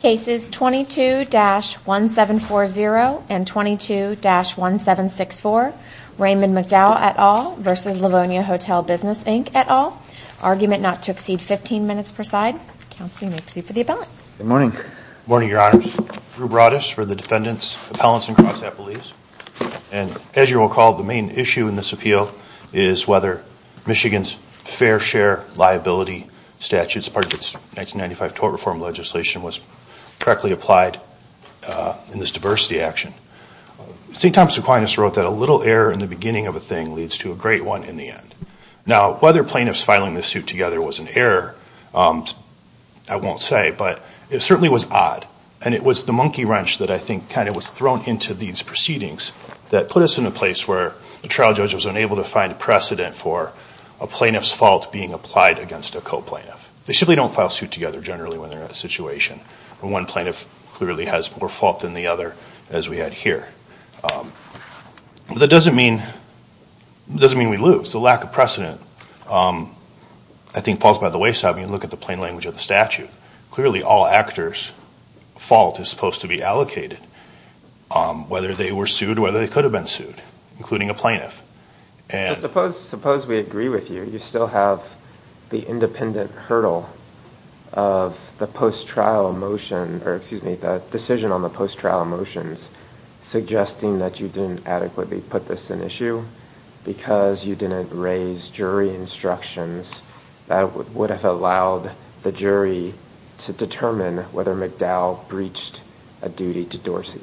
Cases 22-1740 and 22-1764 Raymond McDowell et al. versus Livonia Hotel Business Inc et al. Argument not to exceed 15 minutes per side. Counseling may proceed for the appellant. Good morning. Good morning, Your Honors. Drew Broaddus for the defendants. Appellants and cross-appellates. And as you will recall, the main issue in this appeal is whether Michigan's fair share liability statutes as part of its 1995 tort reform legislation was correctly applied in this diversity action. St. Thomas Aquinas wrote that a little error in the beginning of a thing leads to a great one in the end. Now, whether plaintiffs filing this suit together was an error, I won't say, but it certainly was odd. And it was the monkey wrench that I think kind of was thrown into these proceedings that put us in a place where the trial judge was unable to find precedent for a plaintiff's fault being applied against a co-plaintiff. They simply don't file suit together generally when they're in a situation where one plaintiff clearly has more fault than the other, as we had here. But that doesn't mean we lose. The lack of precedent, I think, falls by the wayside when you look at the plain language of the statute. Clearly, all actors' fault is supposed to be allocated, whether they were sued or whether they could have been sued, including a plaintiff. Suppose we agree with you. You still have the independent hurdle of the decision on the post-trial motions suggesting that you didn't adequately put this in issue because you didn't raise jury instructions that would have allowed the jury to determine whether McDowell breached a duty to Dorsey.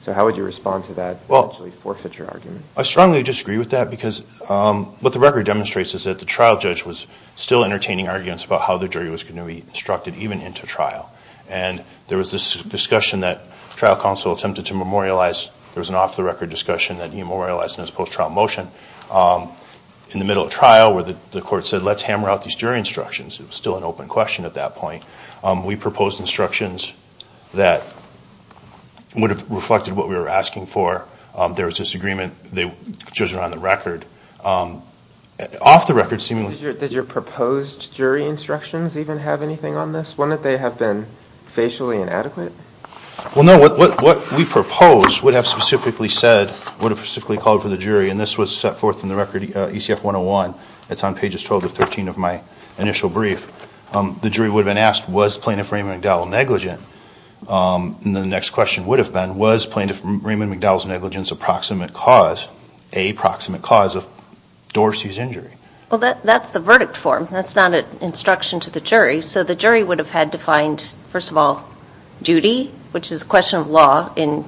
So how would you respond to that forfeiture argument? I strongly disagree with that because what the record demonstrates is that the trial judge was still entertaining arguments about how the jury was going to be instructed, even into trial. And there was this discussion that trial counsel attempted to memorialize. There was an off-the-record discussion that he memorialized in his post-trial motion. In the middle of trial, where the court said, let's hammer out these jury instructions. It was still an open question at that point. We proposed instructions that would have reflected what we were asking for. There was this agreement. The judges were on the record. Off the record, seemingly... Did your proposed jury instructions even have anything on this? Wouldn't they have been facially inadequate? Well, no. What we proposed would have specifically said, would have specifically called for the jury. And this was set forth in the record, ECF 101. It's on pages 12 to 13 of my initial brief. The jury would have been asked, was plaintiff Raymond McDowell negligent? And the next question would have been, was plaintiff Raymond McDowell's negligence a proximate cause of Dorsey's injury? Well, that's the verdict form. That's not an instruction to the jury. So the jury would have had to find, first of all, duty, which is a question of law in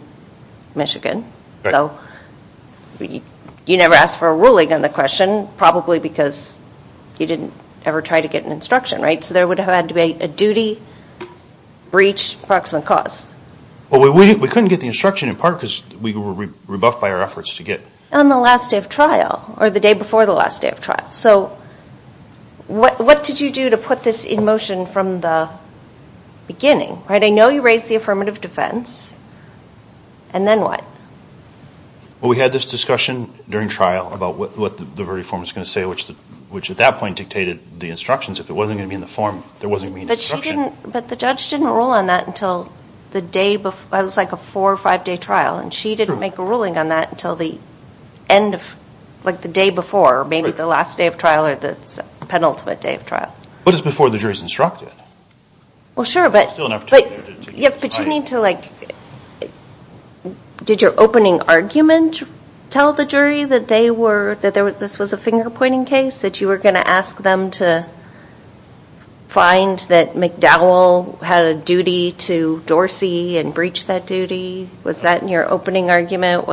Michigan. So you never ask for a ruling on the question, probably because you didn't ever try to get an instruction, right? So there would have had to be a duty, breach, proximate cause. Well, we couldn't get the instruction in part because we were rebuffed by our efforts to get it. On the last day of trial, or the day before the last day of trial. So what did you do to put this in motion from the beginning? I know you raised the affirmative defense. And then what? Well, we had this discussion during trial about what the verdict form was going to say, which at that point dictated the instructions. If it wasn't going to be in the form, there wasn't going to be an instruction. But the judge didn't rule on that until the day before. It's like a four or five-day trial, and she didn't make a ruling on that until the end of the day before, or maybe the last day of trial or the penultimate day of trial. But it's before the jury's instructed. Well, sure, but you need to, like, did your opening argument tell the jury that this was a finger-pointing case, that you were going to ask them to find that McDowell had a duty to Dorsey and breach that duty? Was that in your opening argument?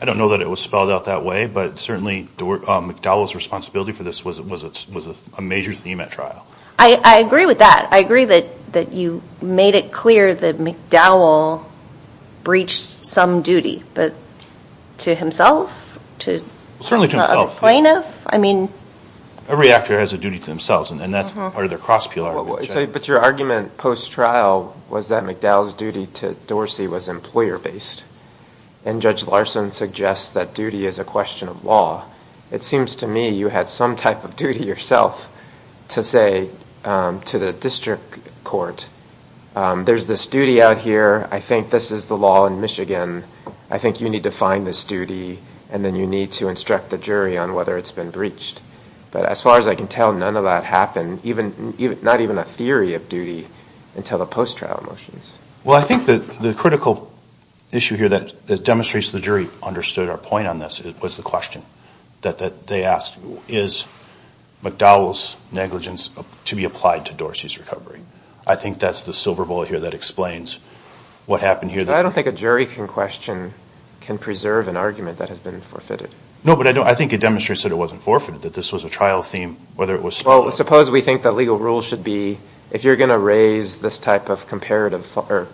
I don't know that it was spelled out that way, but certainly McDowell's responsibility for this was a major theme at trial. I agree with that. I agree that you made it clear that McDowell breached some duty, but to himself, to a plaintiff? Certainly to himself. Every actor has a duty to themselves, and that's part of their cross-peel argument. But your argument post-trial was that McDowell's duty to Dorsey was employer-based, and Judge Larson suggests that duty is a question of law. It seems to me you had some type of duty yourself to say to the district court, there's this duty out here, I think this is the law in Michigan, I think you need to find this duty, and then you need to instruct the jury on whether it's been breached. But as far as I can tell, none of that happened, not even a theory of duty until the post-trial motions. Well, I think the critical issue here that demonstrates the jury understood our point on this was the question that they asked, is McDowell's negligence to be applied to Dorsey's recovery? I think that's the silver bullet here that explains what happened here. I don't think a jury can question, can preserve an argument that has been forfeited. No, but I think it demonstrates that it wasn't forfeited, that this was a trial theme. Well, suppose we think that legal rule should be, if you're going to raise this type of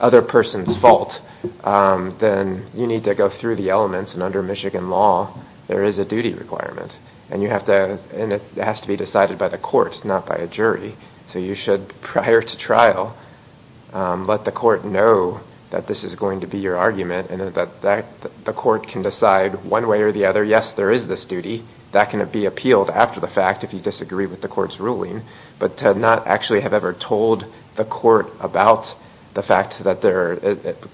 other person's fault, then you need to go through the elements, and under Michigan law there is a duty requirement, and it has to be decided by the court, not by a jury. So you should, prior to trial, let the court know that this is going to be your argument and that the court can decide one way or the other, yes, there is this duty, that can be appealed after the fact if you disagree with the court's ruling, but to not actually have ever told the court about the fact that there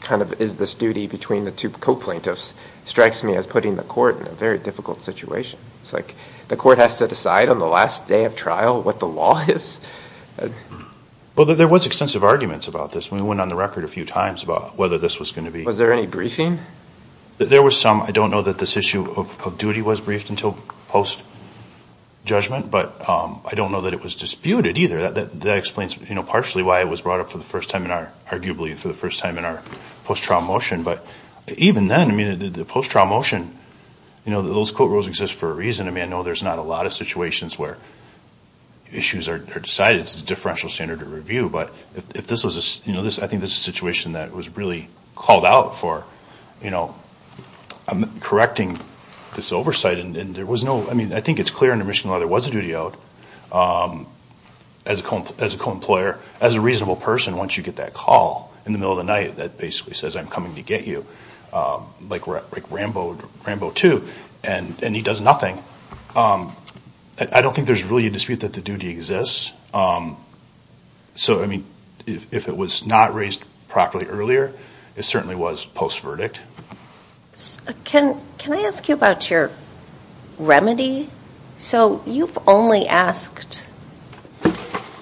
kind of is this duty between the two co-plaintiffs strikes me as putting the court in a very difficult situation. It's like the court has to decide on the last day of trial what the law is. Well, there was extensive arguments about this. We went on the record a few times about whether this was going to be. Was there any briefing? There was some. I don't know that this issue of duty was briefed until post-judgment, but I don't know that it was disputed either. That explains partially why it was brought up for the first time in our, arguably for the first time in our post-trial motion. But even then, I mean, the post-trial motion, you know, those court rules exist for a reason. I mean, I know there's not a lot of situations where issues are decided. It's a differential standard of review, but if this was a, you know, I think this is a situation that was really called out for, you know, correcting this oversight. And there was no, I mean, I think it's clear under Michigan law there was a duty out as a co-employer, as a reasonable person once you get that call in the middle of the night that basically says, I'm coming to get you, like Rambo II, and he does nothing. I don't think there's really a dispute that the duty exists. So, I mean, if it was not raised properly earlier, it certainly was post-verdict. Can I ask you about your remedy? So you've only asked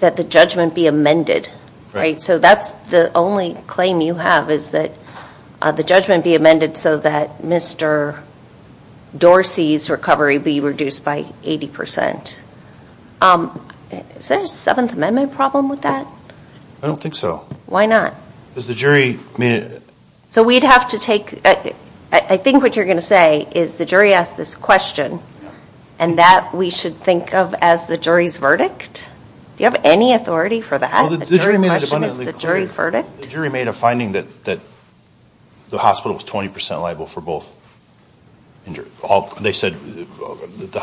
that the judgment be amended, right? So that's the only claim you have is that the judgment be amended so that Mr. Dorsey's recovery would be reduced by 80 percent. Is there a Seventh Amendment problem with that? I don't think so. Why not? Because the jury made it. So we'd have to take, I think what you're going to say is the jury asked this question, and that we should think of as the jury's verdict? Do you have any authority for that? The jury made a finding that the hospital was 20 percent liable for both injuries. They said that the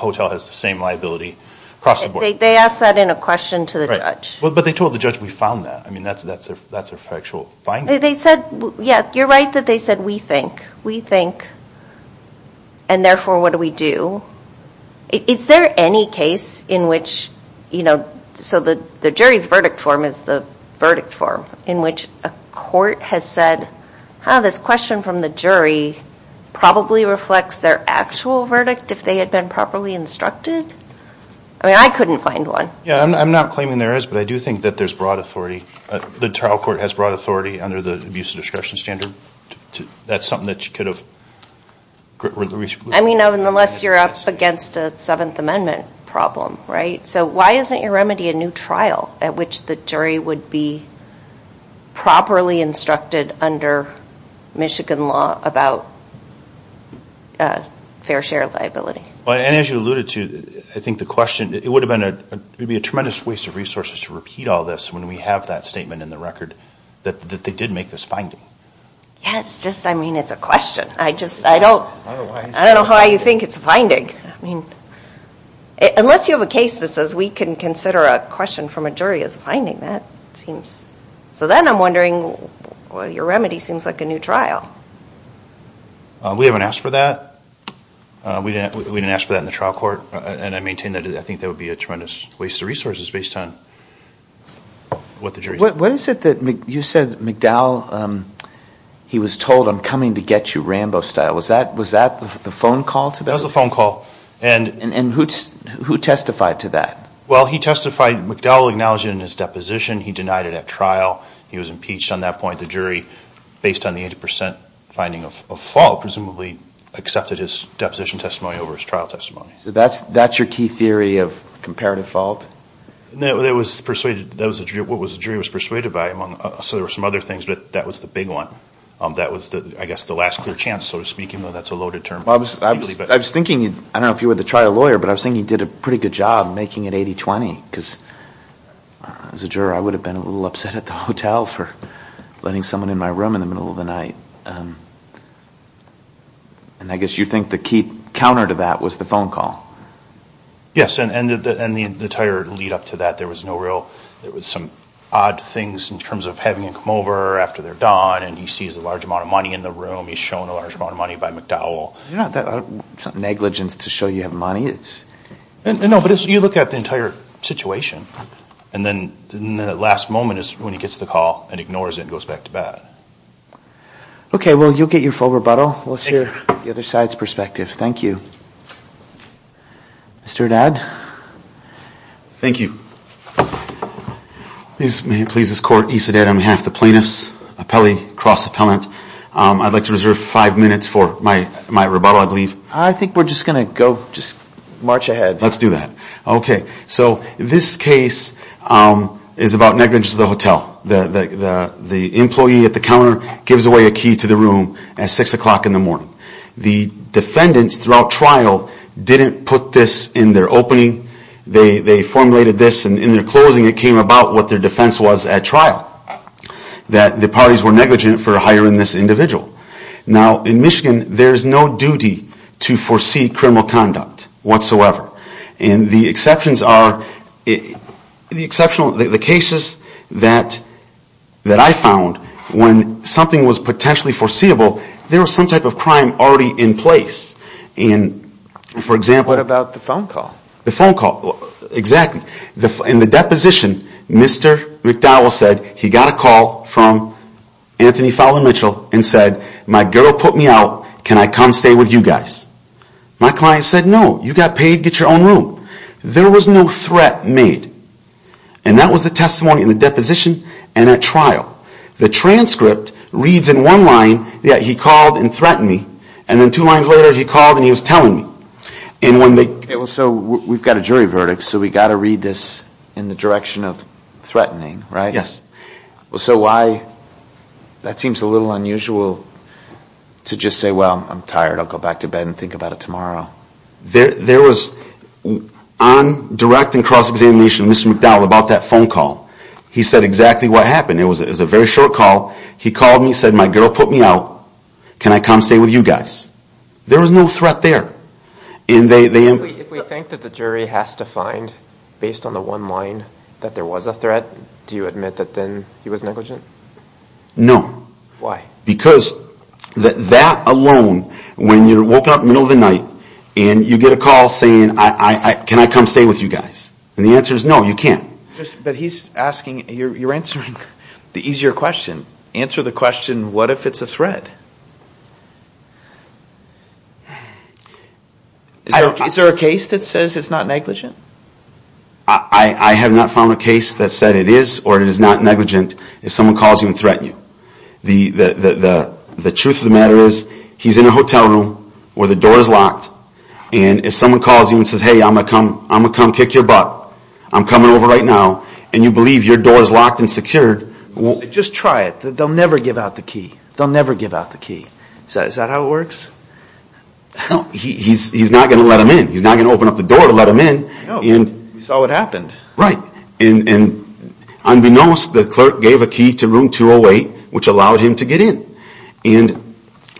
hotel has the same liability across the board. They asked that in a question to the judge. Right. But they told the judge we found that. I mean, that's a factual finding. They said, yeah, you're right that they said we think. We think, and therefore what do we do? Is there any case in which, you know, so the jury's verdict form is the verdict form in which a court has said, huh, this question from the jury probably reflects their actual verdict if they had been properly instructed? I mean, I couldn't find one. Yeah, I'm not claiming there is, but I do think that there's broad authority. The trial court has broad authority under the abuse of discretion standard. That's something that you could have reached. I mean, unless you're up against a Seventh Amendment problem, right? So why isn't your remedy a new trial at which the jury would be properly instructed under Michigan law about fair share liability? Well, and as you alluded to, I think the question, it would have been a, it would be a tremendous waste of resources to repeat all this when we have that statement in the record that they did make this finding. Yeah, it's just, I mean, it's a question. I just, I don't, I don't know how you think it's a finding. I mean, unless you have a case that says we can consider a question from a jury as a finding, that seems. So then I'm wondering, well, your remedy seems like a new trial. We haven't asked for that. We didn't ask for that in the trial court. And I maintain that I think that would be a tremendous waste of resources based on what the jury said. What is it that, you said McDowell, he was told, I'm coming to get you Rambo style. Was that the phone call to that? That was the phone call. And who testified to that? Well, he testified, McDowell acknowledged it in his deposition. He denied it at trial. He was impeached on that point. The jury, based on the 80% finding of fault, presumably accepted his deposition testimony over his trial testimony. So that's your key theory of comparative fault? That was persuaded, that was what the jury was persuaded by. So there were some other things, but that was the big one. That was, I guess, the last clear chance, so to speak, even though that's a loaded term. I was thinking, I don't know if you were the trial lawyer, but I was thinking he did a pretty good job making it 80-20. Because as a juror, I would have been a little upset at the hotel for letting someone in my room in the middle of the night. And I guess you think the key counter to that was the phone call. Yes, and the entire lead up to that, there was no real, there was some odd things in terms of having him come over after they're done and he sees a large amount of money in the room. He's shown a large amount of money by McDowell. It's not negligence to show you have money. No, but you look at the entire situation. And then the last moment is when he gets the call and ignores it and goes back to bed. Okay, well, you'll get your full rebuttal. We'll hear the other side's perspective. Thank you. Mr. Dadd? Thank you. May it please this Court, Issa Dadd on behalf of the plaintiffs, appellee, cross-appellant. I'd like to reserve five minutes for my rebuttal, I believe. I think we're just going to go, just march ahead. Let's do that. Okay, so this case is about negligence to the hotel. The employee at the counter gives away a key to the room at 6 o'clock in the morning. The defendants throughout trial didn't put this in their opening. They formulated this and in their closing it came about what their defense was at trial. That the parties were negligent for hiring this individual. Now, in Michigan, there's no duty to foresee criminal conduct whatsoever. And the exceptions are, the cases that I found, when something was potentially foreseeable, there was some type of crime already in place. And, for example... What about the phone call? The phone call, exactly. In the deposition, Mr. McDowell said he got a call from Anthony Fowler Mitchell and said, my girl put me out, can I come stay with you guys? My client said, no, you got paid, get your own room. There was no threat made. And that was the testimony in the deposition and at trial. The transcript reads in one line that he called and threatened me, and then two lines later he called and he was telling me. So, we've got a jury verdict, so we've got to read this in the direction of threatening, right? Yes. So, why... That seems a little unusual to just say, well, I'm tired, I'll go back to bed and think about it tomorrow. There was, on direct and cross-examination, Mr. McDowell about that phone call. He said exactly what happened. It was a very short call. He called me and said, my girl put me out, can I come stay with you guys? There was no threat there. If we think that the jury has to find, based on the one line, that there was a threat, do you admit that then he was negligent? No. Why? Because that alone, when you're woken up in the middle of the night, and you get a call saying, can I come stay with you guys? And the answer is no, you can't. But he's asking, you're answering the easier question. Answer the question, what if it's a threat? Is there a case that says it's not negligent? I have not found a case that said it is or it is not negligent if someone calls you and threatens you. The truth of the matter is, he's in a hotel room where the door is locked, and if someone calls you and says, hey, I'm going to come kick your butt, I'm coming over right now, and you believe your door is locked and secured... Just try it. They'll never give out the key. They'll never give out the key. Is that how it works? He's not going to let them in. He's not going to open up the door to let them in. No. We saw what happened. Right. And unbeknownst, the clerk gave a key to room 208, which allowed him to get in.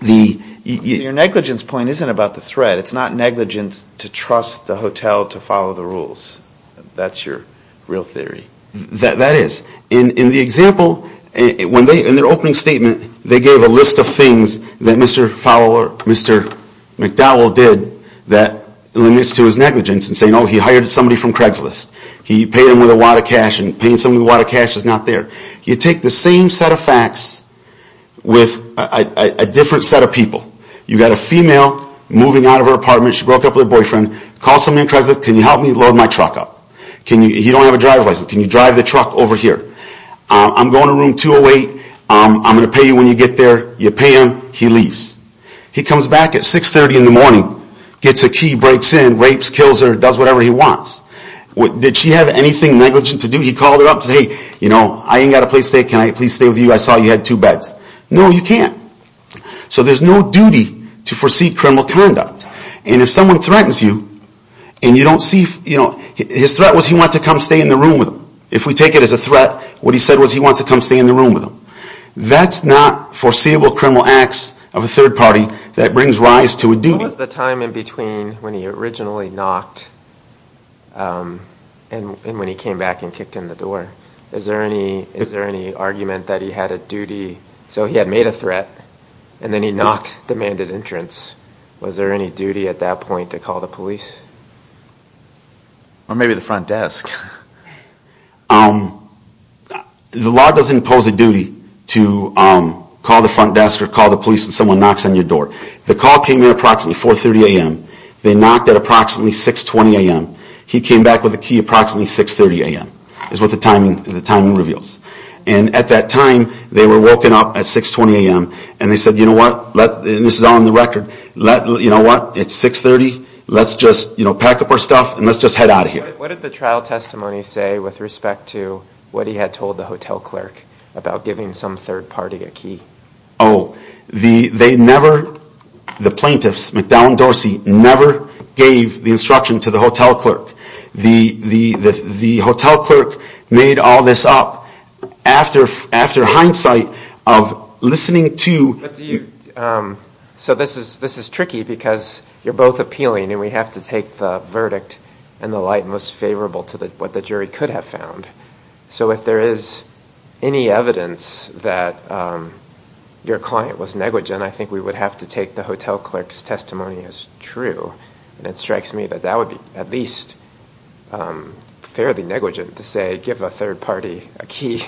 Your negligence point isn't about the threat. It's not negligence to trust the hotel to follow the rules. That's your real theory. That is. In the example, in their opening statement, they gave a list of things that Mr. McDowell did that limits to his negligence in saying, oh, he hired somebody from Craigslist. He paid him with a wad of cash, and paying somebody with a wad of cash is not there. You take the same set of facts with a different set of people. You've got a female moving out of her apartment. She broke up with her boyfriend. Call somebody from Craigslist. He don't have a driver's license. Can you drive the truck over here? I'm going to room 208. I'm going to pay you when you get there. You pay him. He leaves. He comes back at 630 in the morning, gets a key, breaks in, rapes, kills her, does whatever he wants. Did she have anything negligent to do? He called her up and said, hey, I ain't got a place to stay. Can I please stay with you? I saw you had two beds. No, you can't. So there's no duty to foresee criminal conduct. And if someone threatens you and you don't see, his threat was he wanted to come stay in the room with him. If we take it as a threat, what he said was he wanted to come stay in the room with him. That's not foreseeable criminal acts of a third party that brings rise to a duty. What was the time in between when he originally knocked and when he came back and kicked in the door? Is there any argument that he had a duty? So he had made a threat, and then he knocked, demanded entrance. Was there any duty at that point to call the police? Or maybe the front desk. The law doesn't impose a duty to call the front desk or call the police when someone knocks on your door. The call came in approximately 4.30 a.m. They knocked at approximately 6.20 a.m. He came back with the key approximately 6.30 a.m. Is what the timing reveals. And at that time, they were woken up at 6.20 a.m. And they said, you know what, this is all on the record, you know what, it's 6.30, let's just pack up our stuff and let's just head out of here. What did the trial testimony say with respect to what he had told the hotel clerk about giving some third party a key? Oh, they never, the plaintiffs, McDowell and Dorsey, never gave the instruction to the hotel clerk. The hotel clerk made all this up after hindsight of listening to... So this is tricky because you're both appealing and we have to take the verdict and the light most favorable to what the jury could have found. So if there is any evidence that your client was negligent, I think we would have to take the hotel clerk's testimony as true. And it strikes me that that would be at least fairly negligent to say give a third party a key.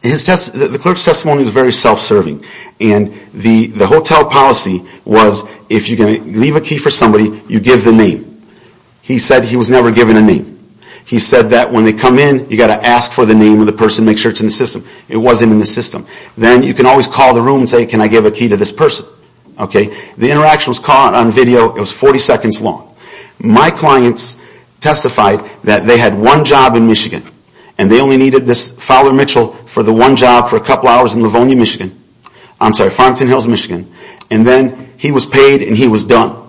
The clerk's testimony was very self-serving. And the hotel policy was if you're going to leave a key for somebody, you give the name. He said he was never given a name. He said that when they come in, you've got to ask for the name of the person, make sure it's in the system. It wasn't in the system. Then you can always call the room and say, can I give a key to this person? The interaction was caught on video, it was 40 seconds long. My clients testified that they had one job in Michigan and they only needed this Fowler Mitchell for the one job for a couple hours in Livonia, Michigan. I'm sorry, Farmington Hills, Michigan. And then he was paid and he was done.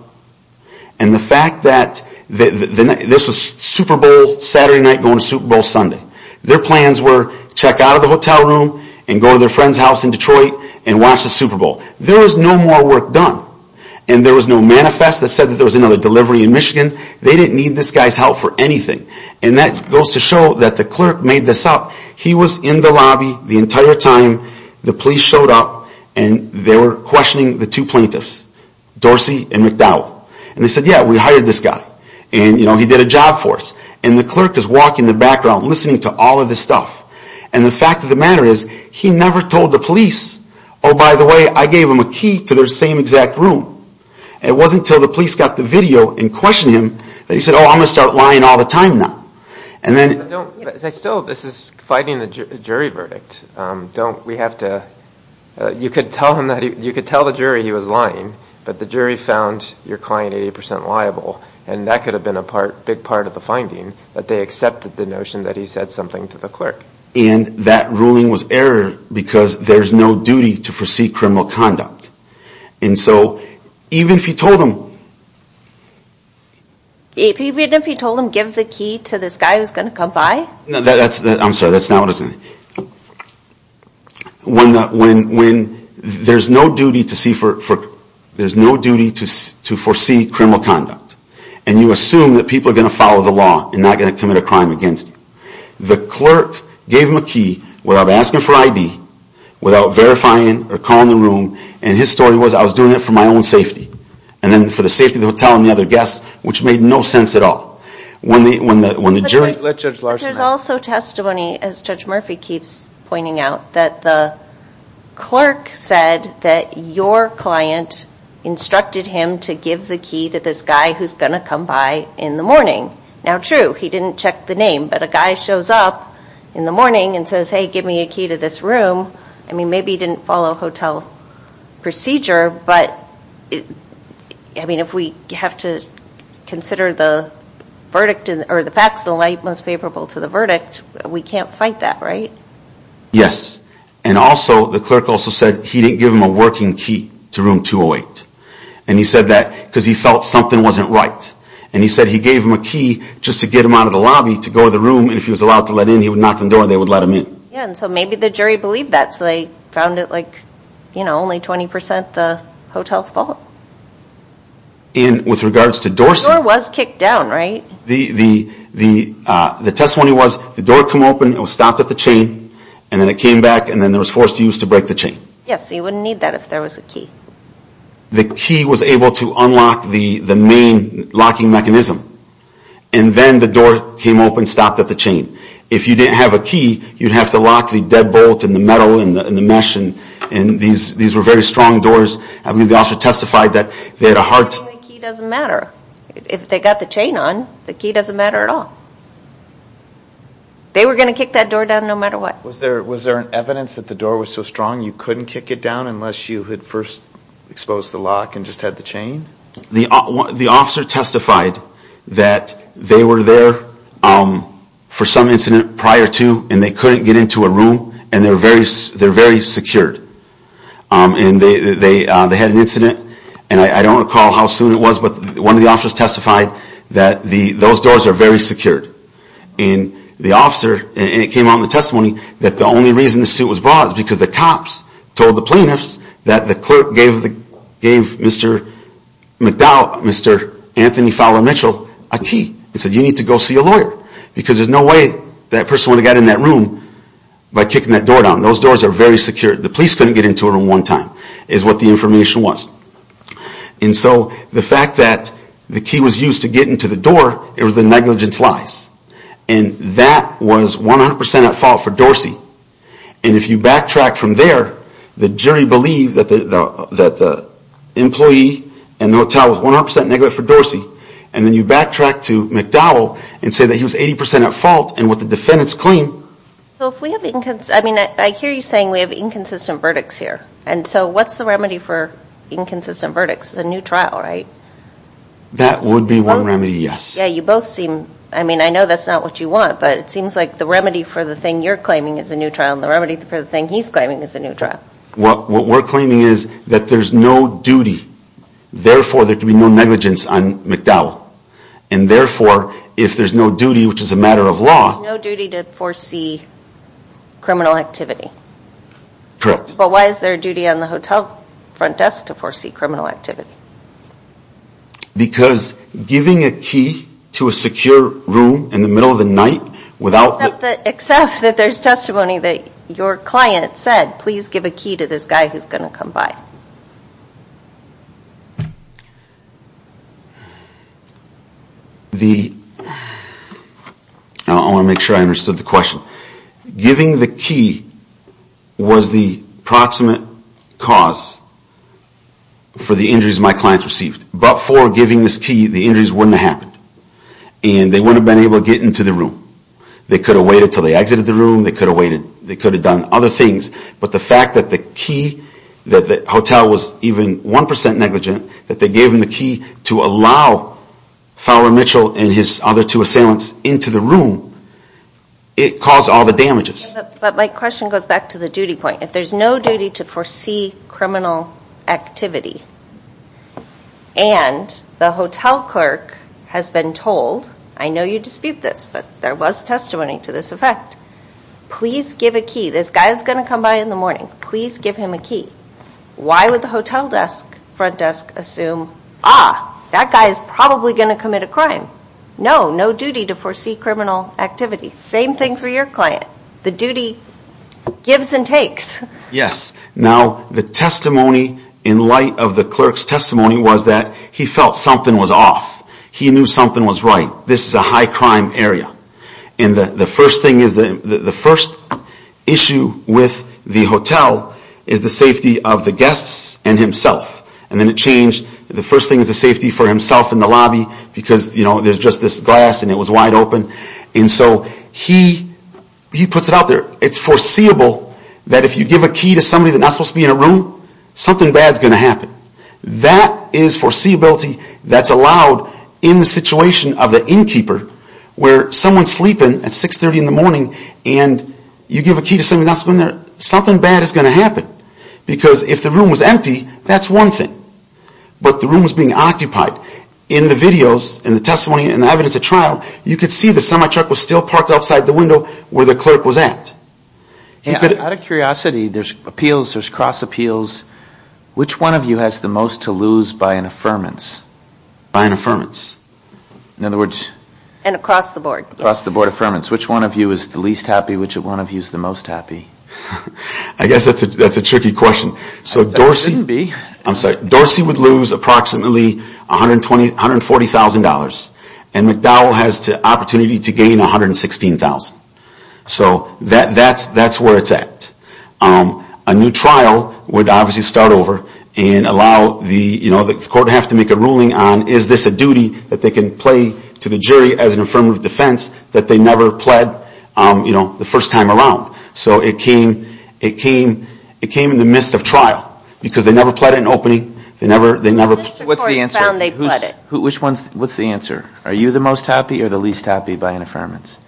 And the fact that this was Super Bowl Saturday night going to Super Bowl Sunday. Their plans were check out of the hotel room and go to their friend's house in Detroit and watch the Super Bowl. There was no more work done. And there was no manifest that said there was another delivery in Michigan. They didn't need this guy's help for anything. And that goes to show that the clerk made this up. He was in the lobby the entire time the police showed up and they were questioning the two plaintiffs, Dorsey and McDowell. And they said, yeah, we hired this guy. And he did a job for us. And the clerk is walking in the background listening to all of this stuff. And the fact of the matter is, he never told the police, oh, by the way, I gave them a key to their same exact room. It wasn't until the police got the video and questioned him that he said, oh, I'm going to start lying all the time now. And then... But still, this is fighting a jury verdict. Don't, we have to, you could tell the jury he was lying, but the jury found your client 80% liable. And that could have been a big part of the finding, that they accepted the notion that he said something to the clerk. And that ruling was errored because there's no duty to foresee criminal conduct. And so, even if you told them... Even if you told them, give the key to this guy who's going to come by? I'm sorry, that's not what I said. When there's no duty to foresee criminal conduct. And you assume that people are going to follow the law and not going to commit a crime against you. The clerk gave him a key without asking for ID, without verifying or calling the room. And his story was, I was doing it for my own safety. And then for the safety of the hotel and the other guests, which made no sense at all. When the jury... But there's also testimony, as Judge Murphy keeps pointing out, that the clerk said that your client instructed him to give the key to this guy who's going to come by in the morning. Now, true, he didn't check the name. But a guy shows up in the morning and says, hey, give me a key to this room. I mean, maybe he didn't follow hotel procedure. But, I mean, if we have to consider the verdict or the facts of the light most favorable to the verdict, we can't fight that, right? Yes. And also, the clerk also said he didn't give him a working key to room 208. And he said that because he felt something wasn't right. And he said he gave him a key just to get him out of the lobby to go to the room. And if he was allowed to let in, he would knock on the door and they would let him in. Yeah, and so maybe the jury believed that. So they found it like, you know, only 20% the hotel's fault. And with regards to Dorsey... The door was kicked down, right? The testimony was, the door came open, it was stopped at the chain, and then it came back, and then it was forced to use to break the chain. Yes, so you wouldn't need that if there was a key. The key was able to unlock the main locking mechanism. And then the door came open, stopped at the chain. If you didn't have a key, you'd have to lock the deadbolt and the metal and the mesh. And these were very strong doors. I believe the officer testified that they had a hard... The key doesn't matter. If they got the chain on, the key doesn't matter at all. They were going to kick that door down no matter what. Was there evidence that the door was so strong you couldn't kick it down unless you had first exposed the lock and just had the chain? The officer testified that they were there for some incident prior to, and they couldn't get into a room, and they're very secured. And they had an incident, and I don't recall how soon it was, but one of the officers testified that those doors are very secured. And the officer, and it came out in the testimony, that the only reason the suit was brought is because the cops told the plaintiffs that the clerk gave Mr. McDowell, Mr. Anthony Fowler Mitchell, a key and said, you need to go see a lawyer. Because there's no way that person would have gotten in that room by kicking that door down. Those doors are very secure. The police couldn't get into a room one time is what the information was. And so the fact that the key was used to get into the door, it was the negligence lies. And that was 100% at fault for Dorsey. And if you backtrack from there, the jury believed that the employee in the hotel was 100% negligent for Dorsey. And then you backtrack to McDowell and say that he was 80% at fault, and what the defendants claim... So if we have, I mean, I hear you saying we have inconsistent verdicts here. And so what's the remedy for inconsistent verdicts? It's a new trial, right? That would be one remedy, yes. Yeah, you both seem, I mean, I know that's not what you want, but it seems like the remedy for the thing you're claiming is a new trial, and the remedy for the thing he's claiming is a new trial. What we're claiming is that there's no duty. Therefore, there can be no negligence on McDowell. And therefore, if there's no duty, which is a matter of law... Criminal activity. Correct. But why is there a duty on the hotel front desk to foresee criminal activity? Because giving a key to a secure room in the middle of the night without... Except that there's testimony that your client said, please give a key to this guy who's going to come by. The... I want to make sure I understood the question. Giving the key was the proximate cause for the injuries my clients received. But for giving this key, the injuries wouldn't have happened. And they wouldn't have been able to get into the room. They could have waited until they exited the room. They could have waited. They could have done other things. But the fact that the key, that the hotel was even 1% negligent, that they gave him the key to allow Fowler Mitchell and his other two assailants into the room, it caused all the damages. But my question goes back to the duty point. If there's no duty to foresee criminal activity, and the hotel clerk has been told, I know you dispute this, but there was testimony to this effect, please give a key. This guy is going to come by in the morning. Please give him a key. Why would the hotel desk, front desk, assume, ah, that guy is probably going to commit a crime? No, no duty to foresee criminal activity. Same thing for your client. The duty gives and takes. Yes. Now, the testimony in light of the clerk's testimony was that he felt something was off. He knew something was right. This is a high-crime area. And the first issue with the hotel is the safety of the guests and himself. And then it changed. The first thing is the safety for himself in the lobby because, you know, there's just this glass and it was wide open. And so he puts it out there. It's foreseeable that if you give a key to somebody that's not supposed to be in a room, something bad is going to happen. That is foreseeability that's allowed in the situation of the innkeeper where someone's sleeping at 630 in the morning and you give a key to somebody that's not supposed to be in there, something bad is going to happen. Because if the room was empty, that's one thing. But the room was being occupied. In the videos and the testimony and the evidence at trial, you could see the semi-truck was still parked outside the window where the clerk was at. Out of curiosity, there's appeals, there's cross appeals. Which one of you has the most to lose by an affirmance? By an affirmance? In other words... And across the board. Across the board affirmance. Which one of you is the least happy? Which one of you is the most happy? I guess that's a tricky question. So Dorsey... It shouldn't be. I'm sorry. Dorsey would lose approximately $140,000. And McDowell has the opportunity to gain $116,000. So that's where it's at. A new trial would obviously start over and allow the court to have to make a ruling on is this a duty that they can play to the jury as an affirmative defense that they never pled the first time around. So it came in the midst of trial. Because they never pled an opening. They never... What's the answer? What's the answer? Are you the most happy or the least happy by an affirmance?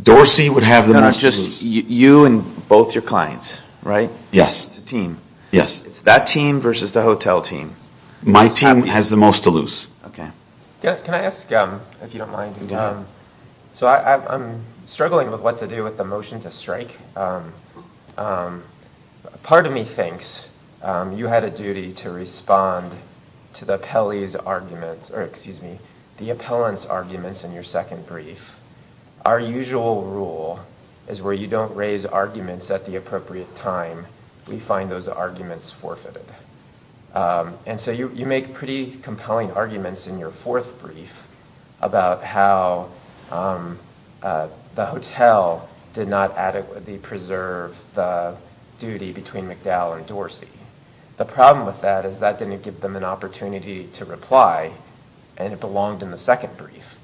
Dorsey would have the most to lose. You and both your clients, right? Yes. It's a team. Yes. It's that team versus the hotel team. My team has the most to lose. Okay. Can I ask, if you don't mind? Go ahead. So I'm struggling with what to do with the motion to strike. Part of me thinks you had a duty to respond to the appellant's arguments in your second brief. Our usual rule is where you don't raise arguments at the appropriate time, we find those arguments forfeited. And so you make pretty compelling arguments in your fourth brief about how the hotel did not adequately preserve the duty between McDowell and Dorsey. The problem with that is that didn't give them an opportunity to reply, and it belonged in the second brief.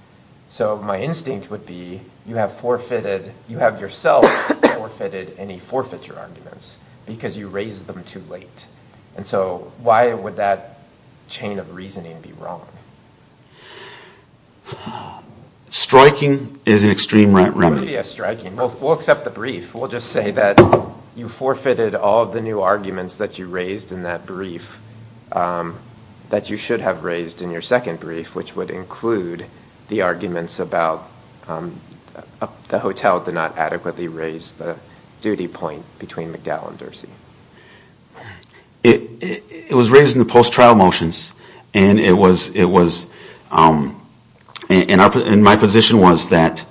So my instinct would be you have forfeited, you have yourself forfeited any forfeiture arguments because you raised them too late. And so why would that chain of reasoning be wrong? Striking is an extreme route. It wouldn't be as striking. We'll accept the brief. We'll just say that you forfeited all of the new arguments that you raised in that brief that you should have raised in your second brief, which would include the arguments about the hotel did not adequately raise the duty point between McDowell and Dorsey. It was raised in the post-trial motions, and my position was that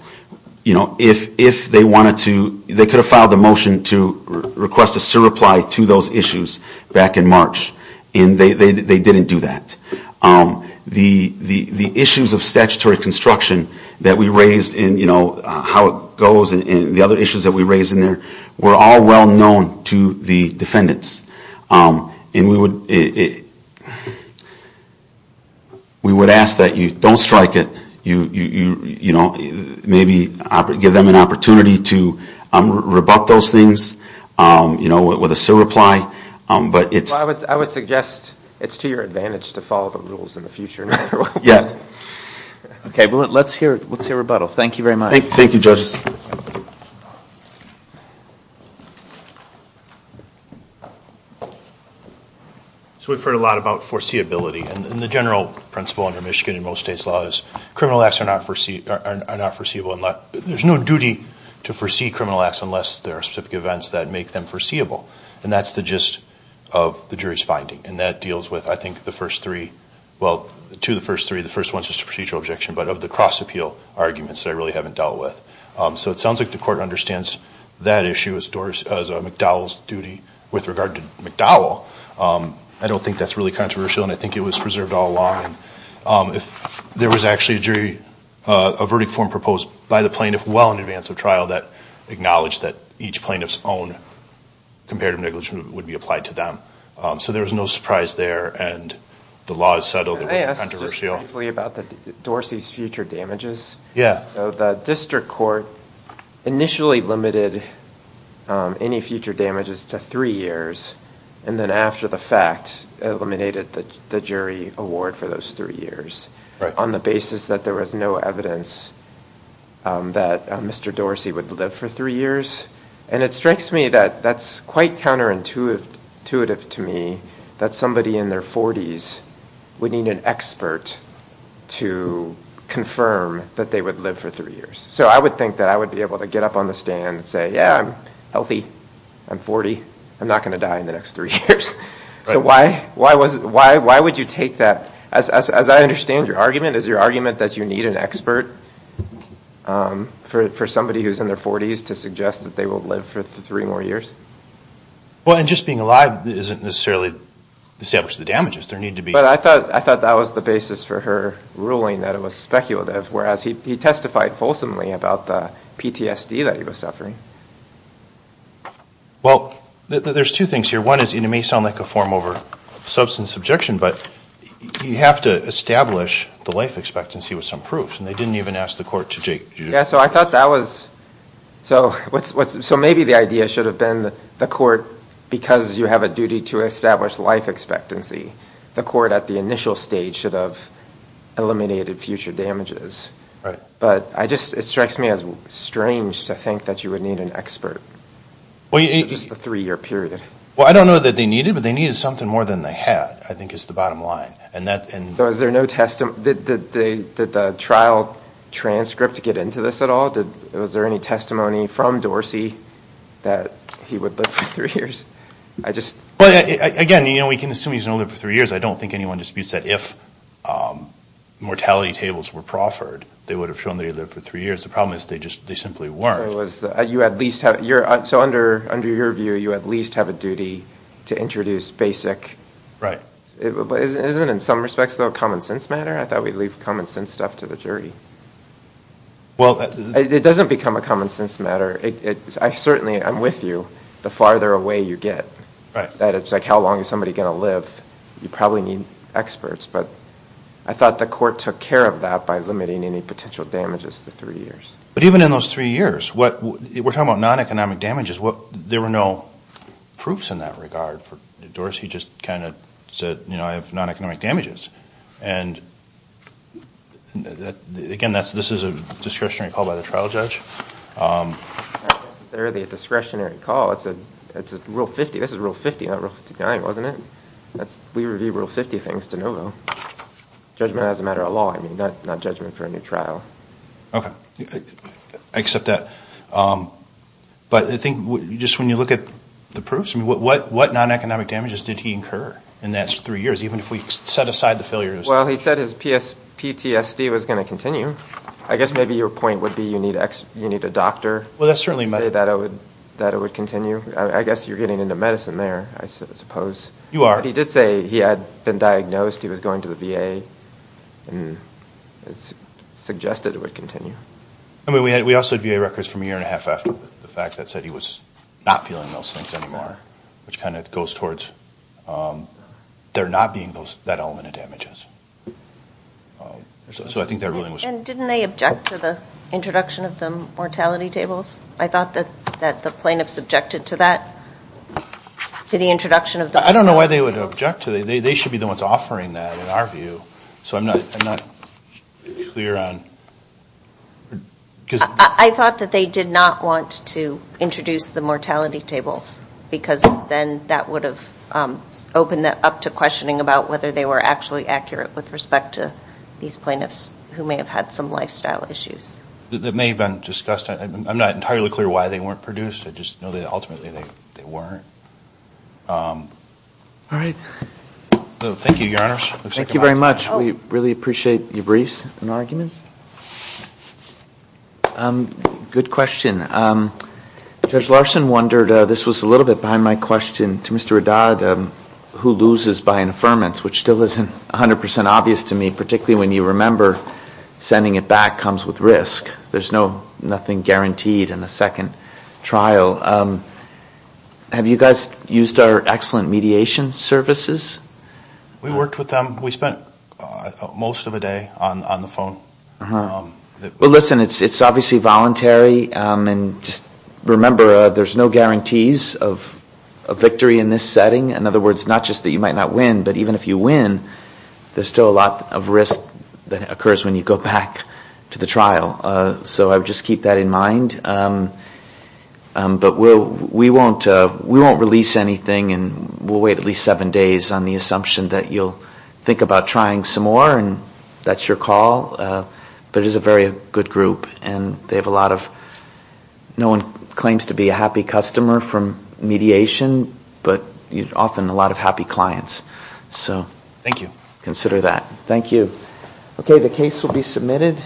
if they wanted to, they could have filed a motion to request a SIR reply to those issues back in March, and they didn't do that. The issues of statutory construction that we raised and how it goes and the other issues that we raised in there were all well known to the defendants. And we would ask that you don't strike it. You know, maybe give them an opportunity to rebut those things, you know, with a SIR reply. But it's to your advantage to follow the rules in the future. Yeah. Okay. Well, let's hear rebuttal. Thank you very much. Thank you, judges. So we've heard a lot about foreseeability, and the general principle under Michigan and most states' laws is criminal acts are not foreseeable unless there's no duty to foresee criminal acts unless there are specific events that make them foreseeable. And that's the gist of the jury's finding, and that deals with, I think, the first three. Well, to the first three, the first one's just a procedural objection, but of the cross-appeal arguments that I really haven't dealt with. So it sounds like the court understands that issue as McDowell's duty with regard to McDowell. I don't think that's really controversial, and I think it was preserved all along. There was actually a jury, a verdict form proposed by the plaintiff well in advance of trial that acknowledged that each plaintiff's own comparative negligence would be applied to them. So there was no surprise there, and the law is settled. I asked just briefly about Dorsey's future damages. So the district court initially limited any future damages to three years, and then after the fact eliminated the jury award for those three years on the basis that there was no evidence that Mr. Dorsey would live for three years. And it strikes me that that's quite counterintuitive to me, that somebody in their 40s would need an expert to confirm that they would live for three years. So I would think that I would be able to get up on the stand and say, yeah, I'm healthy, I'm 40, I'm not going to die in the next three years. So why would you take that? As I understand your argument, is your argument that you need an expert for somebody who's in their 40s to suggest that they will live for three more years? Well, and just being alive doesn't necessarily establish the damages. But I thought that was the basis for her ruling that it was speculative, whereas he testified fulsomely about the PTSD that he was suffering. Well, there's two things here. One is, and it may sound like a form over substance objection, but you have to establish the life expectancy with some proof, and they didn't even ask the court to do that. Yeah, so I thought that was, so maybe the idea should have been the court, because you have a duty to establish life expectancy, the court at the initial stage should have eliminated future damages. But it strikes me as strange to think that you would need an expert for just a three-year period. Well, I don't know that they needed, but they needed something more than they had, I think is the bottom line. So is there no testimony, did the trial transcript get into this at all? Was there any testimony from Dorsey that he would live for three years? Again, we can assume he's going to live for three years. I don't think anyone disputes that if mortality tables were proffered, they would have shown that he lived for three years. The problem is they simply weren't. So under your view, you at least have a duty to introduce basic. Right. But isn't it in some respects a common sense matter? I thought we'd leave common sense stuff to the jury. Well. It doesn't become a common sense matter. I certainly, I'm with you, the farther away you get. Right. That it's like how long is somebody going to live? You probably need experts. But I thought the court took care of that by limiting any potential damages to three years. But even in those three years, we're talking about non-economic damages. There were no proofs in that regard for Dorsey. He just kind of said, you know, I have non-economic damages. And, again, this is a discretionary call by the trial judge. It's not necessarily a discretionary call. It's a Rule 50. This is Rule 50, not Rule 59, wasn't it? We review Rule 50 things de novo. Judgment as a matter of law, not judgment for a new trial. Okay. I accept that. But I think just when you look at the proofs, I mean, what non-economic damages did he incur in those three years, even if we set aside the failures? Well, he said his PTSD was going to continue. I guess maybe your point would be you need a doctor to say that it would continue. I guess you're getting into medicine there, I suppose. You are. But he did say he had been diagnosed. He was going to the VA and suggested it would continue. I mean, we also had VA records from a year and a half after the fact that said he was not feeling those things anymore, which kind of goes towards there not being that element of damages. So I think there really was. And didn't they object to the introduction of the mortality tables? I thought that the plaintiffs objected to that, to the introduction of the mortality tables. I don't know why they would object to that. They should be the ones offering that, in our view. So I'm not clear on. I thought that they did not want to introduce the mortality tables because then that would have opened that up to questioning about whether they were actually accurate with respect to these plaintiffs who may have had some lifestyle issues. That may have been discussed. I'm not entirely clear why they weren't produced. I just know that ultimately they weren't. All right. Thank you, Your Honors. Thank you very much. We really appreciate your briefs and arguments. Good question. Judge Larson wondered, this was a little bit behind my question, to Mr. Haddad, who loses by an affirmance, which still isn't 100% obvious to me, particularly when you remember sending it back comes with risk. There's nothing guaranteed in a second trial. Have you guys used our excellent mediation services? We worked with them. We spent most of the day on the phone. Well, listen, it's obviously voluntary, and just remember there's no guarantees of victory in this setting. In other words, not just that you might not win, but even if you win, there's still a lot of risk that occurs when you go back to the trial. So just keep that in mind. But we won't release anything, and we'll wait at least seven days on the assumption that you'll think about trying some more, and that's your call. But it is a very good group, and they have a lot of, no one claims to be a happy customer from mediation, but often a lot of happy clients. Thank you. Thank you. Okay, the case will be submitted.